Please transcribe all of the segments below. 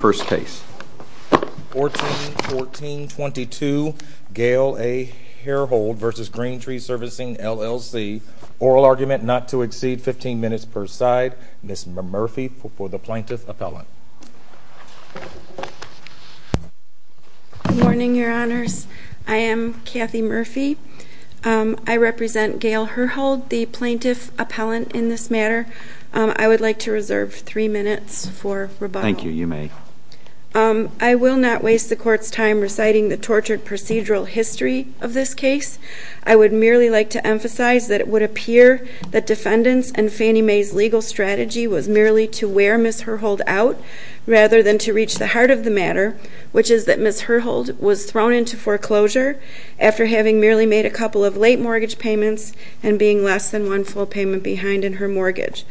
First case. 14-14-22, Gail A. Herhold v. Green Tree Servicing, LLC, oral argument not to exceed 15 minutes per side. Ms. Murphy for the plaintiff appellant. Good morning, your honors. I am Kathy Murphy. I represent Gail Herhold, the plaintiff appellant in this matter. I would like to reserve three minutes for rebuttal. Thank you, you may. I will not waste the court's time reciting the tortured procedural history of this case. I would merely like to emphasize that it would appear that defendants and Fannie Mae's legal strategy was merely to wear Ms. Herhold out rather than to reach the heart of the matter, which is that Ms. Herhold was thrown into foreclosure after having merely made a couple of late mortgage payments and being less than one full payment behind in her mortgage.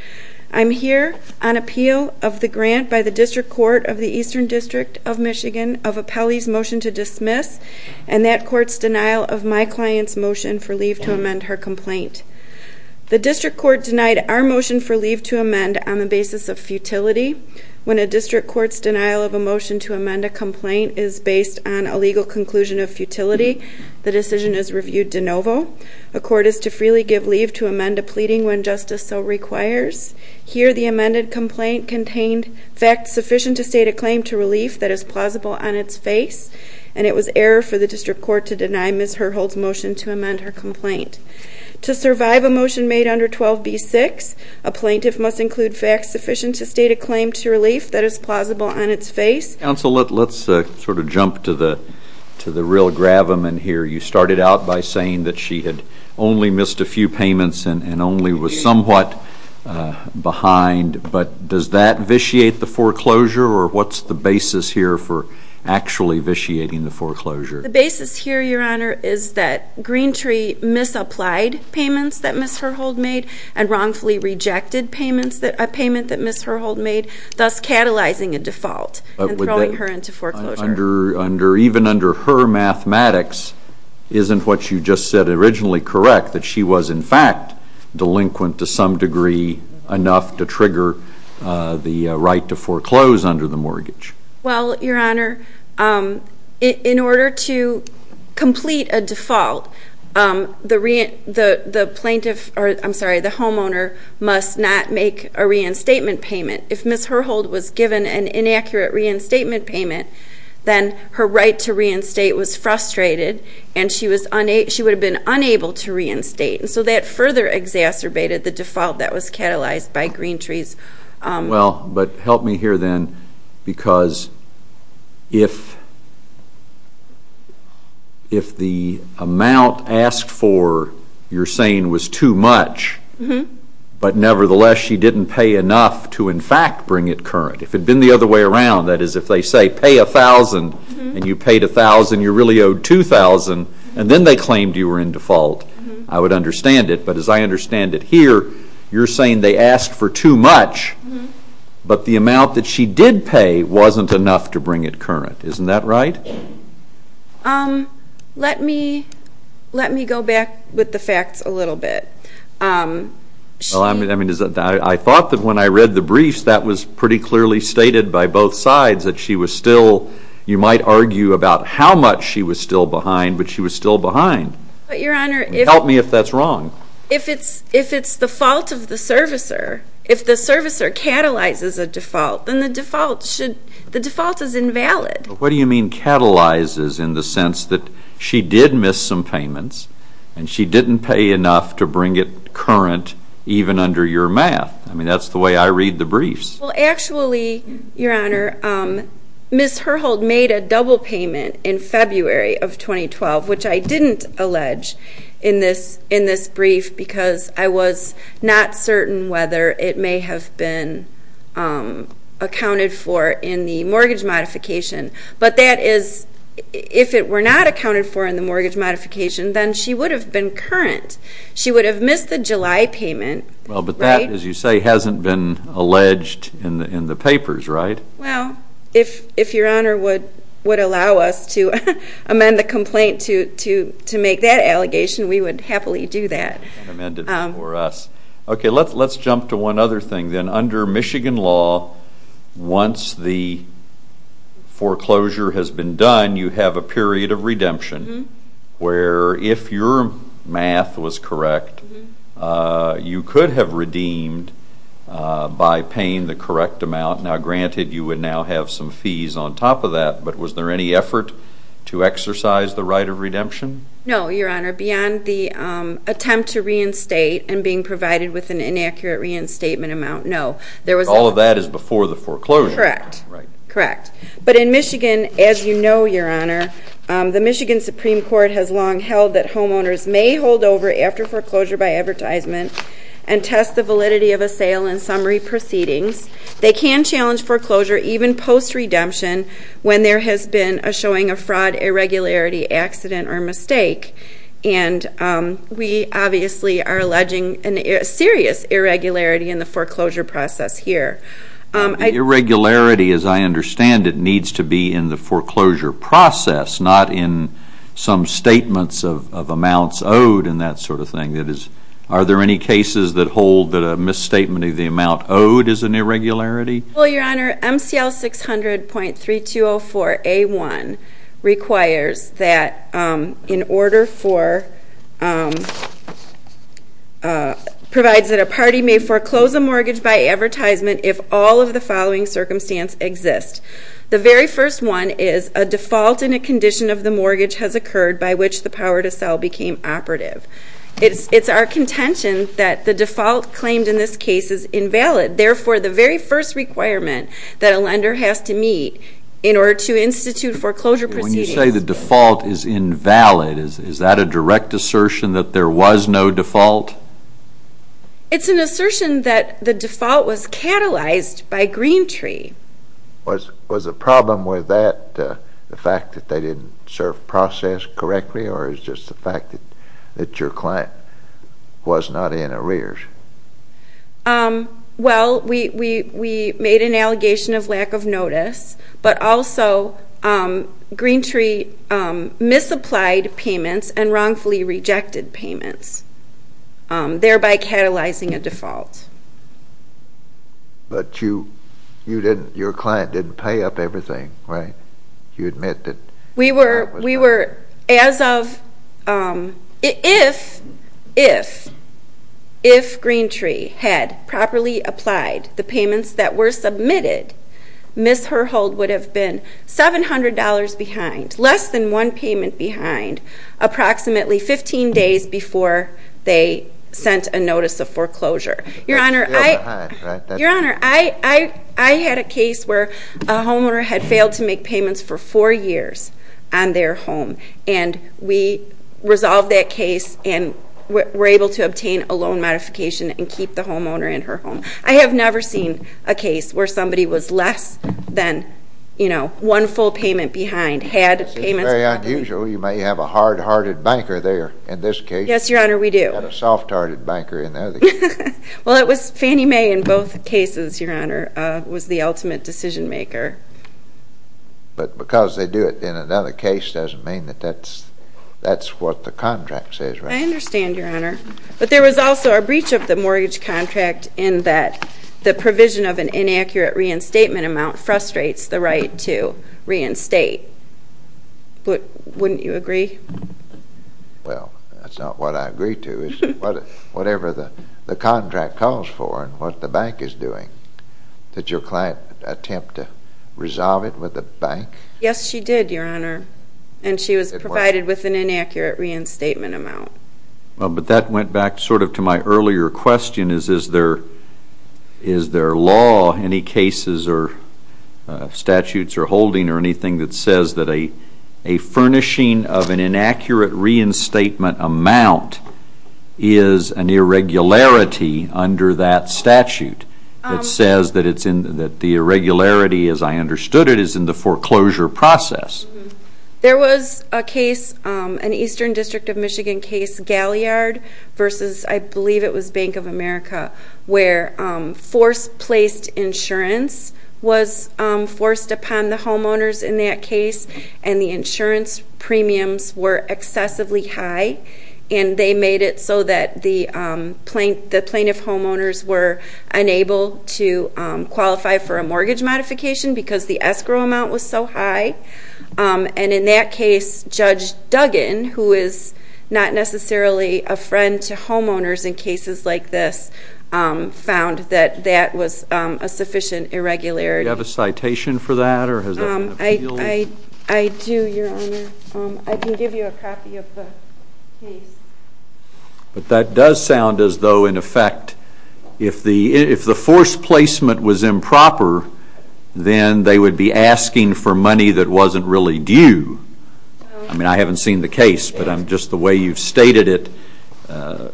I'm here on appeal of the grant by the District Court of the Eastern District of Michigan of Appellee's motion to dismiss and that court's denial of my client's motion for leave to amend her complaint. The district court denied our motion for leave to amend on the basis of futility. When a district court's denial of a motion to amend a complaint is based on a legal conclusion of futility, the decision is reviewed de novo. A court is to freely give leave to amend a pleading when justice so requires. Here the amended complaint contained facts sufficient to state a claim to relief that is plausible on its face, and it was error for the district court to deny Ms. Herhold's motion to amend her complaint. To survive a motion made under 12b-6, a plaintiff must include facts sufficient to state a claim to relief that is plausible on its face. Counsel, let's sort of jump to the to the real gravamen here. You started out by saying that she had only missed a few payments and only was somewhat behind, but does that vitiate the foreclosure or what's the basis here for actually vitiating the foreclosure? The basis here, your honor, is that Greentree misapplied payments that Ms. Herhold made and wrongfully rejected payments that Ms. Herhold made, thus catalyzing a default and throwing her into mathematics. Isn't what you just said originally correct, that she was in fact delinquent to some degree enough to trigger the right to foreclose under the mortgage? Well, your honor, in order to complete a default, the plaintiff, or I'm sorry, the homeowner must not make a reinstatement payment. If Ms. Herhold was given an inaccurate reinstatement payment, then her right to reinstate was frustrated and she would have been unable to reinstate, and so that further exacerbated the default that was catalyzed by Greentree's... Well, but help me here then, because if the amount asked for, you're saying, was too much, but nevertheless she didn't pay enough to in fact bring it current, if it'd been the other way around, that is, if they say pay a thousand and you paid a thousand and you really owed two thousand, and then they claimed you were in default, I would understand it, but as I understand it here, you're saying they asked for too much, but the amount that she did pay wasn't enough to bring it current. Isn't that right? Let me go back with the facts a little bit. I thought that when I read the briefs, that was pretty clearly stated by both sides, that she was still, you know, how much she was still behind, but she was still behind. Help me if that's wrong. If it's the fault of the servicer, if the servicer catalyzes a default, then the default should, the default is invalid. What do you mean catalyzes, in the sense that she did miss some payments, and she didn't pay enough to bring it current, even under your math? I mean, that's the way I read the briefs. Well, actually, your honor, Ms. Herhold made a double payment in February of 2012, which I didn't allege in this brief because I was not certain whether it may have been accounted for in the mortgage modification, but that is, if it were not accounted for in the mortgage modification, then she would have been current. She would have missed the July payment. Well, but that, as you say, hasn't been alleged in the papers, right? Well, if your honor would allow us to amend the complaint to make that allegation, we would happily do that. Okay, let's jump to one other thing. Under Michigan law, once the foreclosure has been done, you have a period of You could have redeemed by paying the correct amount. Now, granted, you would now have some fees on top of that, but was there any effort to exercise the right of redemption? No, your honor, beyond the attempt to reinstate and being provided with an inaccurate reinstatement amount, no. All of that is before the foreclosure. Correct. But in Michigan, as you know, your honor, the Michigan Supreme Court has long held that homeowners may hold over after foreclosure by advertisement and test the validity of a sale and summary proceedings. They can challenge foreclosure even post-redemption when there has been a showing of fraud, irregularity, accident, or mistake. And we obviously are alleging a serious irregularity in the foreclosure process here. Irregularity, as I understand it, needs to be in the foreclosure process, not in some statements of amounts owed and that sort of thing. Are there any cases that hold that a misstatement of the amount owed is an irregularity? Well, your honor, MCL 600.3204A1 requires that in order for, provides that a party may foreclose a mortgage by advertisement if all of the following circumstances exist. The very first one is a default in a condition of the mortgage has occurred by which the power to sell became operative. It's our contention that the default claimed in this case is invalid. Therefore, the very first requirement that a lender has to meet in order to institute foreclosure proceedings. When you say the default is invalid, is that a direct assertion that there was no default? It's an assertion that the default was catalyzed by Greentree. Was the problem with that the fact that they didn't serve process correctly or is just the fact that your client was not in arrears? Well, we made an allegation of lack of notice, but also Greentree misapplied payments and wrongfully rejected payments, thereby catalyzing a default. But you didn't, your client didn't pay up everything, right? You admit that. We were, as of, if Greentree had properly applied the payments that were submitted, Ms. Herhold would have been $700 behind, less than one payment behind, approximately 15 days before they sent a notice of foreclosure. Your Honor, I had a case where a homeowner had failed to make payments for four years on their home, and we resolved that case and were able to obtain a loan modification and keep the homeowner in her home. I have never seen a case where somebody was less than, you know, one full payment behind. This is very unusual. You may have a hard-hearted banker there in this case. Yes, Your Honor, we do. We've got a soft-hearted banker in the other case. Well, it was Fannie Mae in both cases, Your Honor, was the ultimate decision maker. But because they do it in another case doesn't mean that that's what the contract says, right? I understand, Your Honor. But there was also a breach of the mortgage contract in that the provision of an inaccurate reinstatement amount frustrates the right to reinstate. Wouldn't you agree? Well, that's not what I agree to. It's whatever the contract calls for and what the bank is doing. Did your client attempt to resolve it with the bank? Yes, she did, Your Honor, and she was provided with an inaccurate reinstatement amount. Well, but that went back sort of to my earlier question, is there law, any cases or statutes or holding or anything that says that a furnishing of an inaccurate reinstatement amount is an irregularity under that statute? It says that the irregularity, as I understood it, is in the foreclosure process. There was a case, an Eastern District of Michigan case, Galliard versus I believe it was Bank of America, where force-placed insurance was forced upon the homeowners in that case, and the insurance premiums were excessively high, and they made it so that the plaintiff homeowners were unable to qualify for a mortgage modification because the escrow amount was so high. And in that case, Judge Duggan, who is not necessarily a friend to homeowners in cases like this, found that that was a sufficient irregularity. Do you have a citation for that, or has that been appealed? I do, Your Honor. I can give you a copy of the case. But that does sound as though, in effect, if the force placement was improper, then they would be asking for money that wasn't really due. I mean, I haven't seen the case, but just the way you've stated it,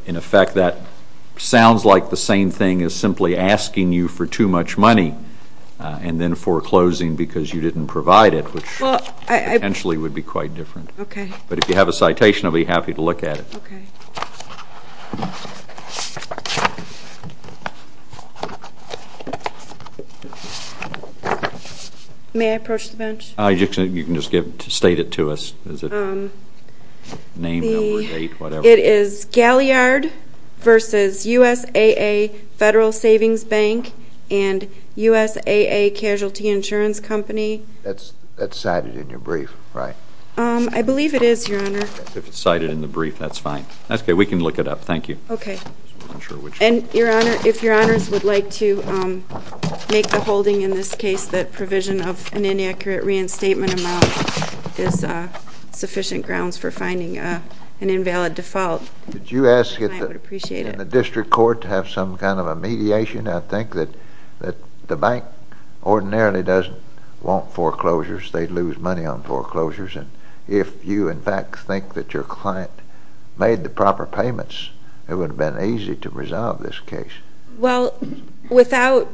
in effect, that sounds like the same thing as simply asking you for too much money and then foreclosing because you didn't provide it, which potentially would be quite different. Okay. But if you have a citation, I'll be happy to look at it. Okay. May I approach the bench? You can just state it to us. Name, number, date, whatever. It is Galliard v. USAA Federal Savings Bank and USAA Casualty Insurance Company. That's cited in your brief, right? I believe it is, Your Honor. If it's cited in the brief, that's fine. That's okay. We can look it up. Thank you. Okay. And, Your Honor, if Your Honors would like to make the holding in this case that provision of an inaccurate reinstatement amount is sufficient grounds for finding an invalid default, I would appreciate it. Did you ask in the district court to have some kind of a mediation? I think that the bank ordinarily doesn't want foreclosures. They'd lose money on foreclosures. And if you, in fact, think that your client made the proper payments, it would have been easy to resolve this case. Well, without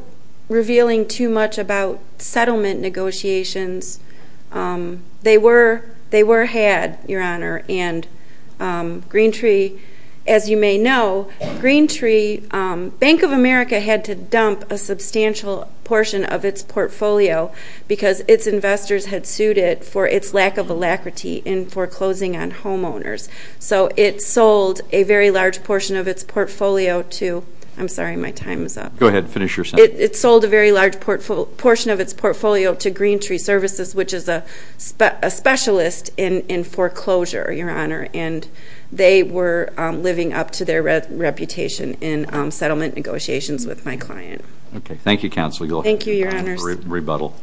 revealing too much about settlement negotiations, they were had, Your Honor. And GreenTree, as you may know, GreenTree, Bank of America had to dump a substantial portion of its portfolio because its investors had sued it for its lack of alacrity in foreclosing on homeowners. So it sold a very large portion of its portfolio to, I'm sorry, my time is up. Go ahead. Finish your sentence. It sold a very large portion of its portfolio to GreenTree Services, which is a specialist in foreclosure, Your Honor. And they were living up to their reputation in settlement negotiations with my client. Okay. Thank you, Counsel. Go ahead. Thank you, Your Honors. Rebuttal.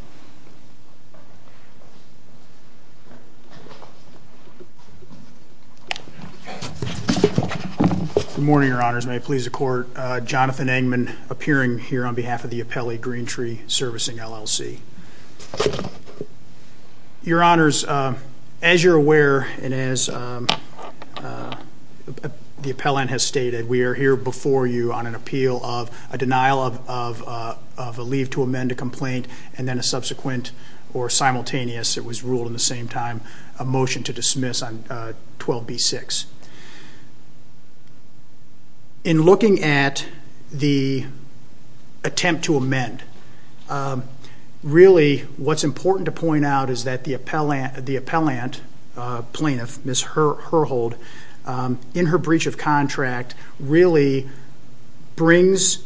Good morning, Your Honors. May it please the Court. Jonathan Engman, appearing here on behalf of the appellee, GreenTree Servicing, LLC. Your Honors, as you're aware and as the appellant has stated, we are here before you on an appeal of a denial of a leave to amend a complaint and then a subsequent or simultaneous, it was ruled at the same time, a motion to dismiss on 12B6. In looking at the attempt to amend, really what's important to point out is that the appellant, plaintiff, Ms. Herhold, in her breach of contract really brings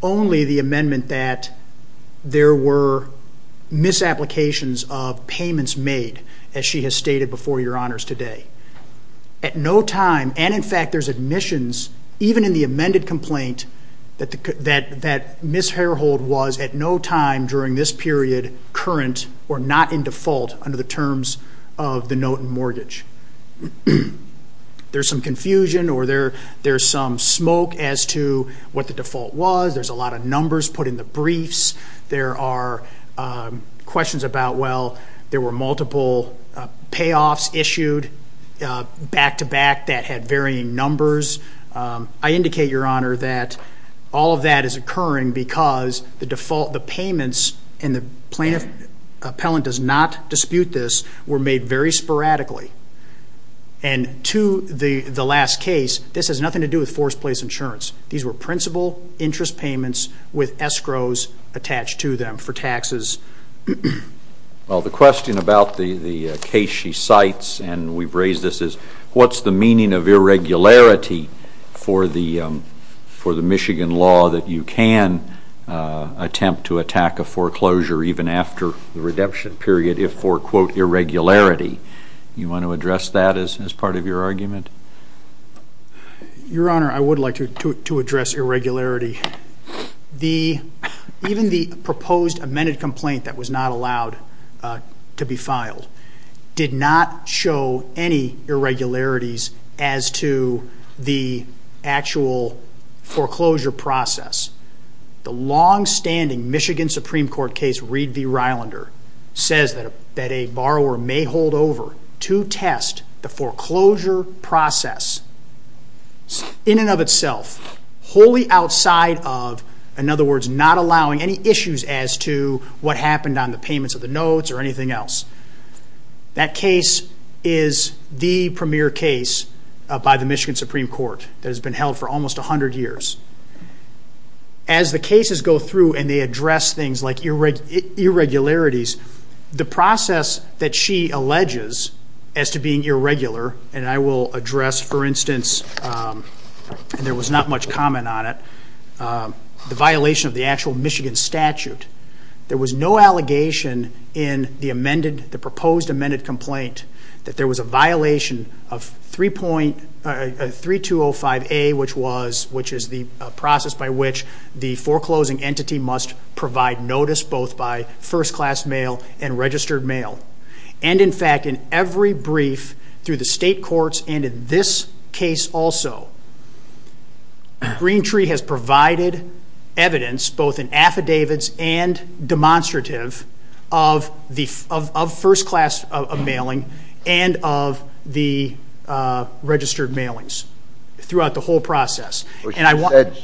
only the amendment that there were misapplications of payments made, as she has stated before Your Honors today. At no time, and in fact there's admissions even in the amended complaint, that Ms. Herhold was at no time during this period current or not in default under the terms of the note and mortgage. There's some confusion or there's some smoke as to what the default was. There's a lot of numbers put in the briefs. There are questions about, well, there were multiple payoffs issued back-to-back that had varying numbers. I indicate, Your Honor, that all of that is occurring because the default, the payments, and the plaintiff appellant does not dispute this, were made very sporadically. And to the last case, this has nothing to do with forced place insurance. These were principal interest payments with escrows attached to them for taxes. Well, the question about the case she cites, and we've raised this, is what's the meaning of irregularity for the Michigan law that you can attempt to attack a foreclosure even after the redemption period if for, quote, irregularity. Do you want to address that as part of your argument? Your Honor, I would like to address irregularity. Even the proposed amended complaint that was not allowed to be filed did not show any irregularities as to the actual foreclosure process. The longstanding Michigan Supreme Court case, Reed v. Rylander, says that a borrower may hold over to test the foreclosure process in and of itself, wholly outside of, in other words, not allowing any issues as to what happened on the payments of the notes or anything else. That case is the premier case by the Michigan Supreme Court that has been held for almost 100 years. As the cases go through and they address things like irregularities, the process that she alleges as to being irregular, and I will address, for instance, and there was not much comment on it, the violation of the actual Michigan statute, there was no allegation in the proposed amended complaint that there was a violation of 3205A, which is the process by which the foreclosing entity must provide notice both by first-class mail and registered mail. And, in fact, in every brief through the state courts and in this case also, Green Tree has provided evidence, both in affidavits and demonstrative, of first-class mailing and of the registered mailings throughout the whole process.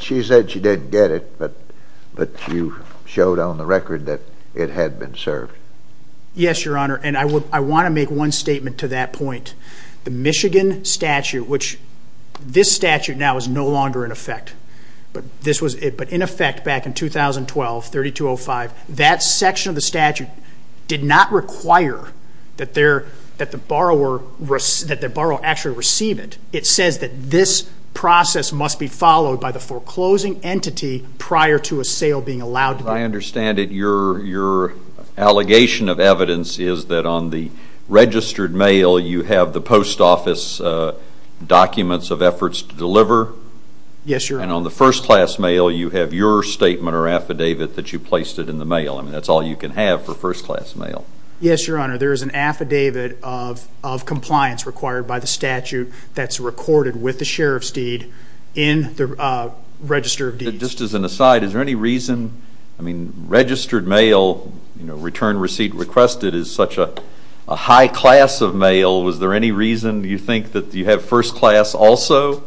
She said she didn't get it, but you showed on the record that it had been served. Yes, Your Honor, and I want to make one statement to that point. The Michigan statute, which this statute now is no longer in effect, but in effect back in 2012, 3205, that section of the statute did not require that the borrower actually receive it. It says that this process must be followed by the foreclosing entity prior to a sale being allowed. I understand that your allegation of evidence is that on the registered mail you have the post office documents of efforts to deliver. Yes, Your Honor. And on the first-class mail you have your statement or affidavit that you placed it in the mail. I mean, that's all you can have for first-class mail. Yes, Your Honor. There is an affidavit of compliance required by the statute that's recorded with the sheriff's deed in the register of deeds. Just as an aside, is there any reason, I mean, registered mail, you know, return receipt requested is such a high class of mail. Was there any reason you think that you have first-class also?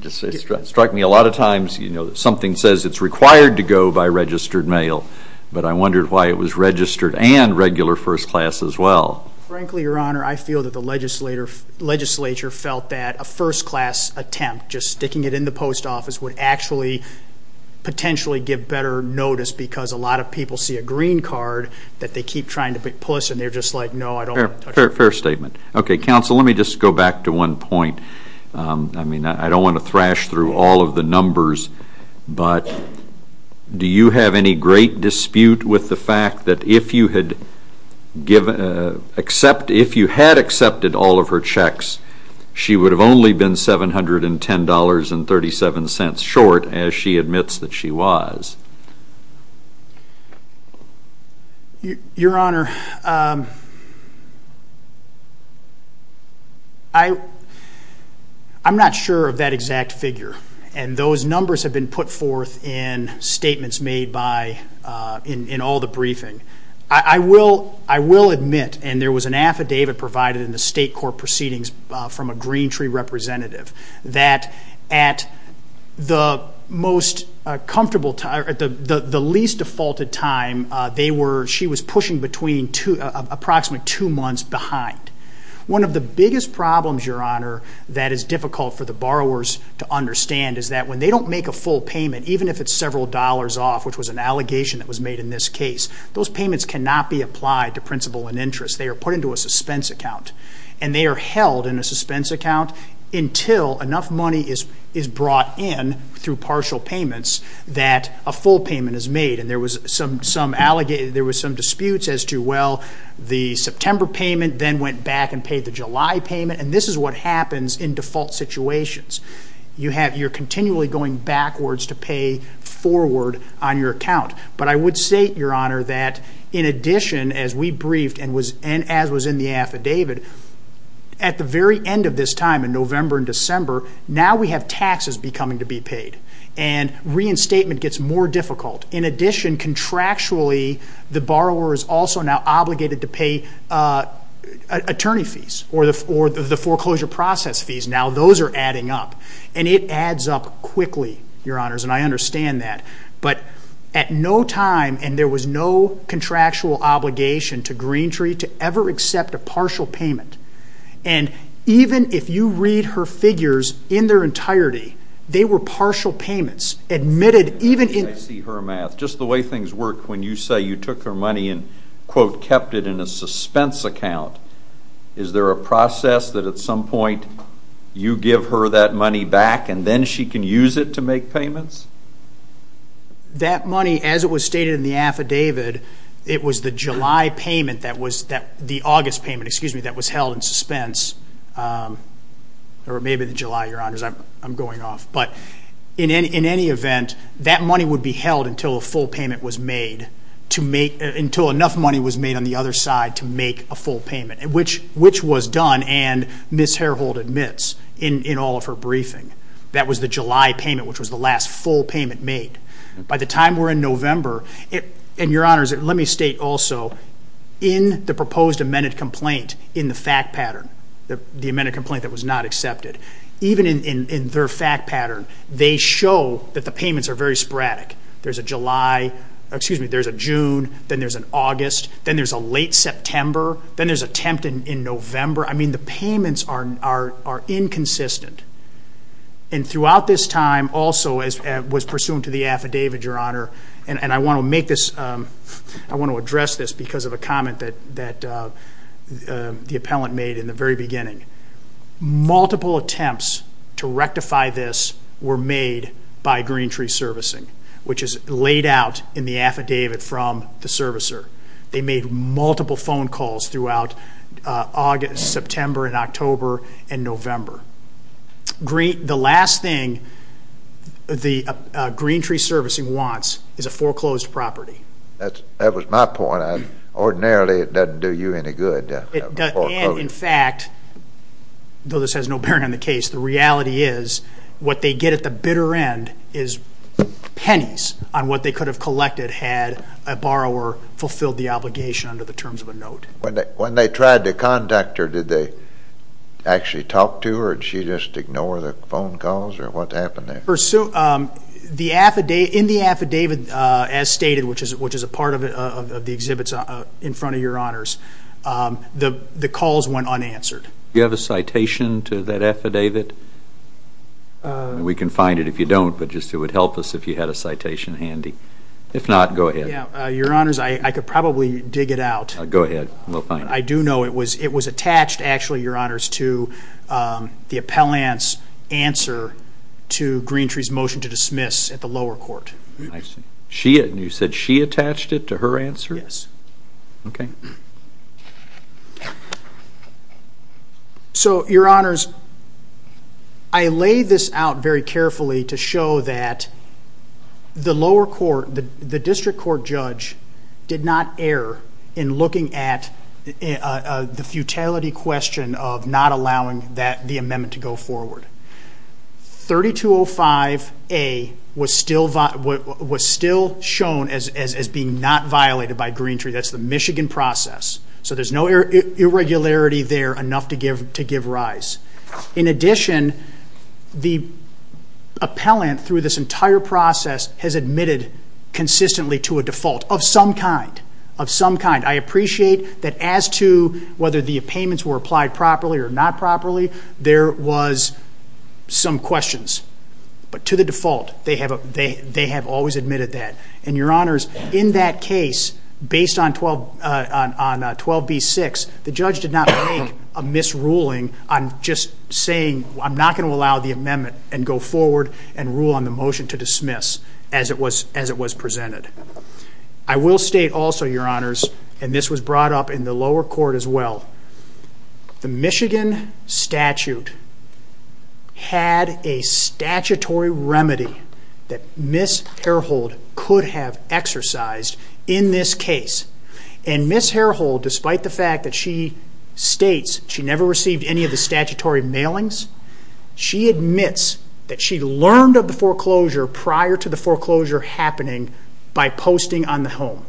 It struck me a lot of times, you know, something says it's required to go by registered mail, but I wondered why it was registered and regular first-class as well. Frankly, Your Honor, I feel that the legislature felt that a first-class attempt, just sticking it in the post office, would actually potentially give better notice because a lot of people see a green card that they keep trying to push, and they're just like, no, I don't want to touch it. Fair statement. Okay, counsel, let me just go back to one point. I mean, I don't want to thrash through all of the numbers, but do you have any great dispute with the fact that if you had accepted all of her checks, she would have only been $710.37 short as she admits that she was? Your Honor, I'm not sure of that exact figure, and those numbers have been put forth in statements made in all the briefing. I will admit, and there was an affidavit provided in the state court proceedings from a Green Tree representative, that at the least defaulted time, she was pushing approximately two months behind. One of the biggest problems, Your Honor, that is difficult for the borrowers to understand is that when they don't make a full payment, even if it's several dollars off, which was an allegation that was made in this case, those payments cannot be applied to principal and interest. They are put into a suspense account, and they are held in a suspense account until enough money is brought in through partial payments that a full payment is made. And there were some disputes as to, well, the September payment then went back and paid the July payment, and this is what happens in default situations. You're continually going backwards to pay forward on your account. But I would say, Your Honor, that in addition, as we briefed and as was in the affidavit, at the very end of this time in November and December, now we have taxes coming to be paid, and reinstatement gets more difficult. In addition, contractually, the borrower is also now obligated to pay attorney fees or the foreclosure process fees. Now those are adding up, and it adds up quickly, Your Honors, and I understand that. But at no time, and there was no contractual obligation to Greentree to ever accept a partial payment. And even if you read her figures in their entirety, they were partial payments admitted even in— I see her math. Just the way things work, when you say you took her money and, quote, kept it in a suspense account, is there a process that at some point you give her that money back and then she can use it to make payments? That money, as it was stated in the affidavit, it was the July payment that was— the August payment, excuse me, that was held in suspense. Or maybe the July, Your Honors. I'm going off. But in any event, that money would be held until a full payment was made, until enough money was made on the other side to make a full payment, which was done, and Ms. Harehold admits in all of her briefing, that was the July payment, which was the last full payment made. By the time we're in November, and Your Honors, let me state also, in the proposed amended complaint, in the fact pattern, the amended complaint that was not accepted, even in their fact pattern, they show that the payments are very sporadic. There's a July—excuse me, there's a June, then there's an August, then there's a late September, then there's a temp in November. I mean, the payments are inconsistent. And throughout this time also, as was pursuant to the affidavit, Your Honor, and I want to make this—I want to address this because of a comment that the appellant made in the very beginning. Multiple attempts to rectify this were made by Greentree Servicing, which is laid out in the affidavit from the servicer. They made multiple phone calls throughout August, September, and October, and November. The last thing the Greentree Servicing wants is a foreclosed property. That was my point. Ordinarily, it doesn't do you any good. And, in fact, though this has no bearing on the case, the reality is what they get at the bitter end is pennies on what they could have collected had a borrower fulfilled the obligation under the terms of a note. When they tried to contact her, did they actually talk to her, or did she just ignore the phone calls, or what happened there? In the affidavit, as stated, which is a part of the exhibits in front of Your Honors, the calls went unanswered. Do you have a citation to that affidavit? We can find it if you don't, but just it would help us if you had a citation handy. If not, go ahead. Your Honors, I could probably dig it out. Go ahead. We'll find it. I do know it was attached, actually, Your Honors, to the appellant's answer to Greentree's motion to dismiss at the lower court. I see. You said she attached it to her answer? Yes. Okay. So, Your Honors, I lay this out very carefully to show that the lower court, the district court judge did not err in looking at the futility question of not allowing the amendment to go forward. 3205A was still shown as being not violated by Greentree. That's the Michigan process, so there's no irregularity there enough to give rise. In addition, the appellant, through this entire process, has admitted consistently to a default of some kind, of some kind. I appreciate that as to whether the payments were applied properly or not properly, there was some questions. But to the default, they have always admitted that. And, Your Honors, in that case, based on 12B-6, the judge did not make a misruling on just saying, I'm not going to allow the amendment and go forward and rule on the motion to dismiss as it was presented. I will state also, Your Honors, and this was brought up in the lower court as well, the Michigan statute had a statutory remedy that Ms. Harehold could have exercised in this case. And Ms. Harehold, despite the fact that she states she never received any of the statutory mailings, she admits that she learned of the foreclosure prior to the foreclosure happening by posting on the home.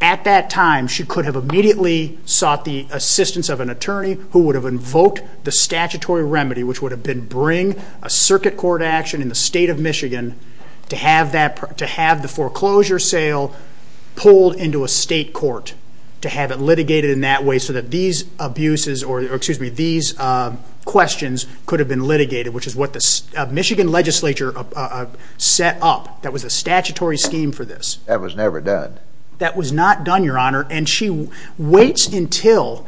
At that time, she could have immediately sought the assistance of an attorney who would have invoked the statutory remedy, which would have been bring a circuit court action in the state of Michigan to have the foreclosure sale pulled into a state court, to have it litigated in that way so that these questions could have been litigated, which is what the Michigan legislature set up. That was the statutory scheme for this. That was never done. That was not done, Your Honor, and she waits until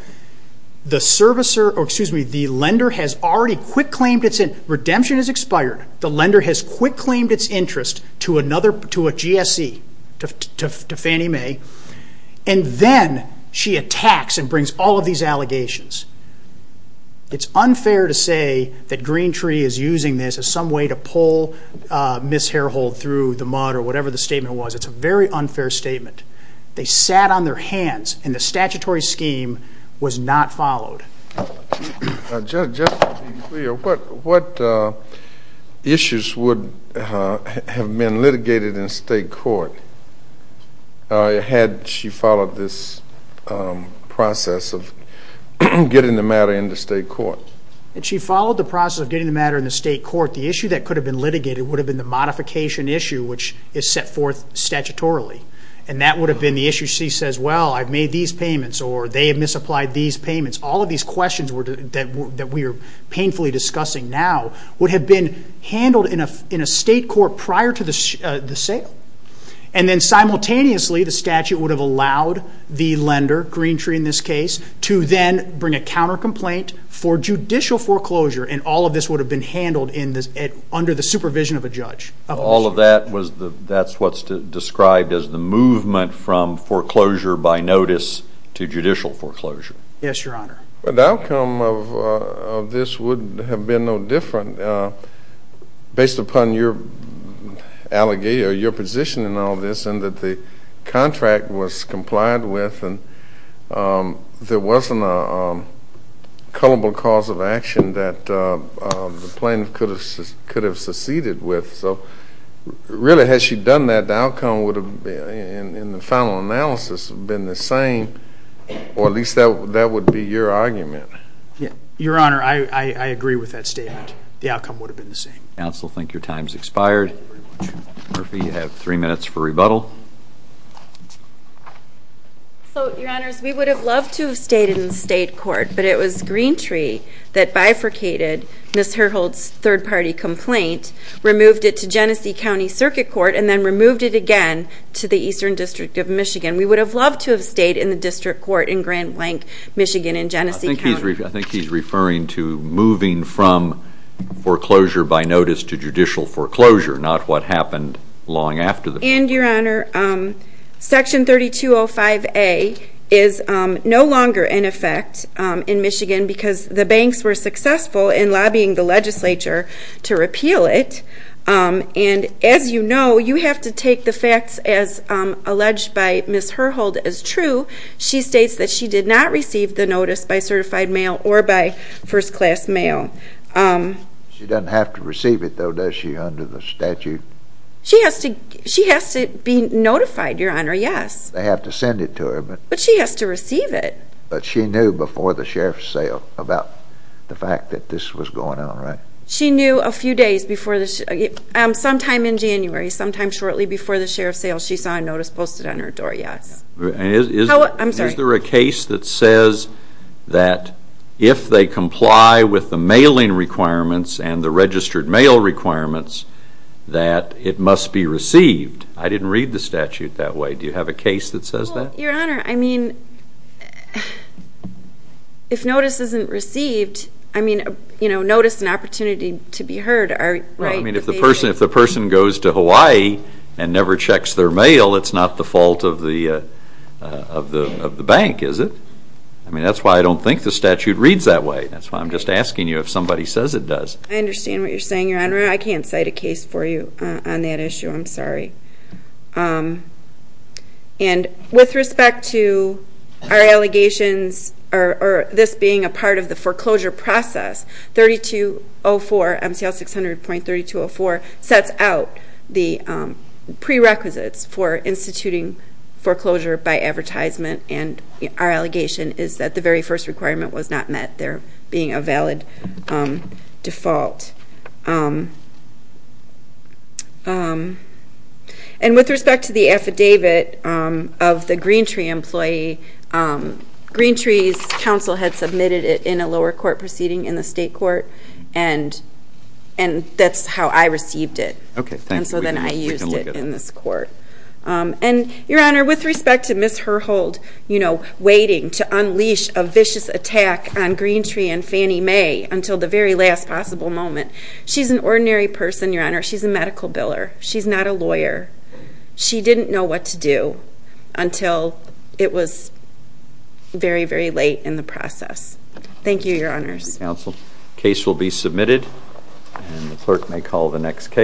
the lender has already quick claimed its interest. Redemption has expired. The lender has quick claimed its interest to a GSE, to Fannie Mae, and then she attacks and brings all of these allegations. It's unfair to say that Green Tree is using this as some way to pull Ms. Harehold through the mud or whatever the statement was. It's a very unfair statement. They sat on their hands, and the statutory scheme was not followed. Just to be clear, what issues would have been litigated in state court had she followed this process of getting the matter into state court? She followed the process of getting the matter into state court. The issue that could have been litigated would have been the modification issue, which is set forth statutorily, and that would have been the issue she says, well, I've made these payments, or they have misapplied these payments. All of these questions that we are painfully discussing now would have been handled in a state court prior to the sale, and then simultaneously the statute would have allowed the lender, Green Tree in this case, to then bring a counter-complaint for judicial foreclosure, and all of this would have been handled under the supervision of a judge. All of that, that's what's described as the movement from foreclosure by notice to judicial foreclosure. Yes, Your Honor. The outcome of this would have been no different, based upon your position in all this, and that the contract was complied with and there wasn't a culpable cause of action that the plaintiff could have seceded with. So really, had she done that, the outcome would have been, in the final analysis, been the same, or at least that would be your argument. Your Honor, I agree with that statement. The outcome would have been the same. I also think your time has expired. Murphy, you have three minutes for rebuttal. So, Your Honors, we would have loved to have stayed in the state court, but it was Green Tree that bifurcated Ms. Herhold's third-party complaint, removed it to Genesee County Circuit Court, and then removed it again to the Eastern District of Michigan. We would have loved to have stayed in the district court in Grand Blanc, Michigan, in Genesee County. I think he's referring to moving from foreclosure by notice to judicial foreclosure, not what happened long after the foreclosure. And, Your Honor, Section 3205A is no longer in effect in Michigan because the banks were successful in lobbying the legislature to repeal it. And, as you know, you have to take the facts as alleged by Ms. Herhold as true. She states that she did not receive the notice by certified mail or by first-class mail. She doesn't have to receive it, though, does she, under the statute? She has to be notified, Your Honor, yes. They have to send it to her. But she has to receive it. But she knew before the sheriff's sale about the fact that this was going on, right? She knew a few days before the – sometime in January, sometime shortly before the sheriff's sale, she saw a notice posted on her door, yes. I'm sorry. Is there a case that says that if they comply with the mailing requirements and the registered mail requirements, that it must be received? I didn't read the statute that way. Do you have a case that says that? Well, Your Honor, I mean, if notice isn't received, I mean, you know, notice and opportunity to be heard are, right? I mean, if the person goes to Hawaii and never checks their mail, it's not the fault of the bank, is it? I mean, that's why I don't think the statute reads that way. That's why I'm just asking you if somebody says it does. I understand what you're saying, Your Honor. I can't cite a case for you on that issue. I'm sorry. And with respect to our allegations or this being a part of the foreclosure process, 3204, MCL 600.3204, sets out the prerequisites for instituting foreclosure by advertisement. And our allegation is that the very first requirement was not met, there being a valid default. And with respect to the affidavit of the Greentree employee, Greentree's counsel had submitted it in a lower court proceeding in the state court, and that's how I received it. Okay. Thank you. We can look at it. And so then I used it in this court. And, Your Honor, with respect to Ms. Herhold, you know, waiting to unleash a vicious attack on Greentree and Fannie Mae until the very last possible moment, she's an ordinary person, Your Honor. She's a medical biller. She's not a lawyer. She didn't know what to do until it was very, very late in the process. Thank you, Your Honors. Thank you, counsel. Case will be submitted, and the clerk may call the next case.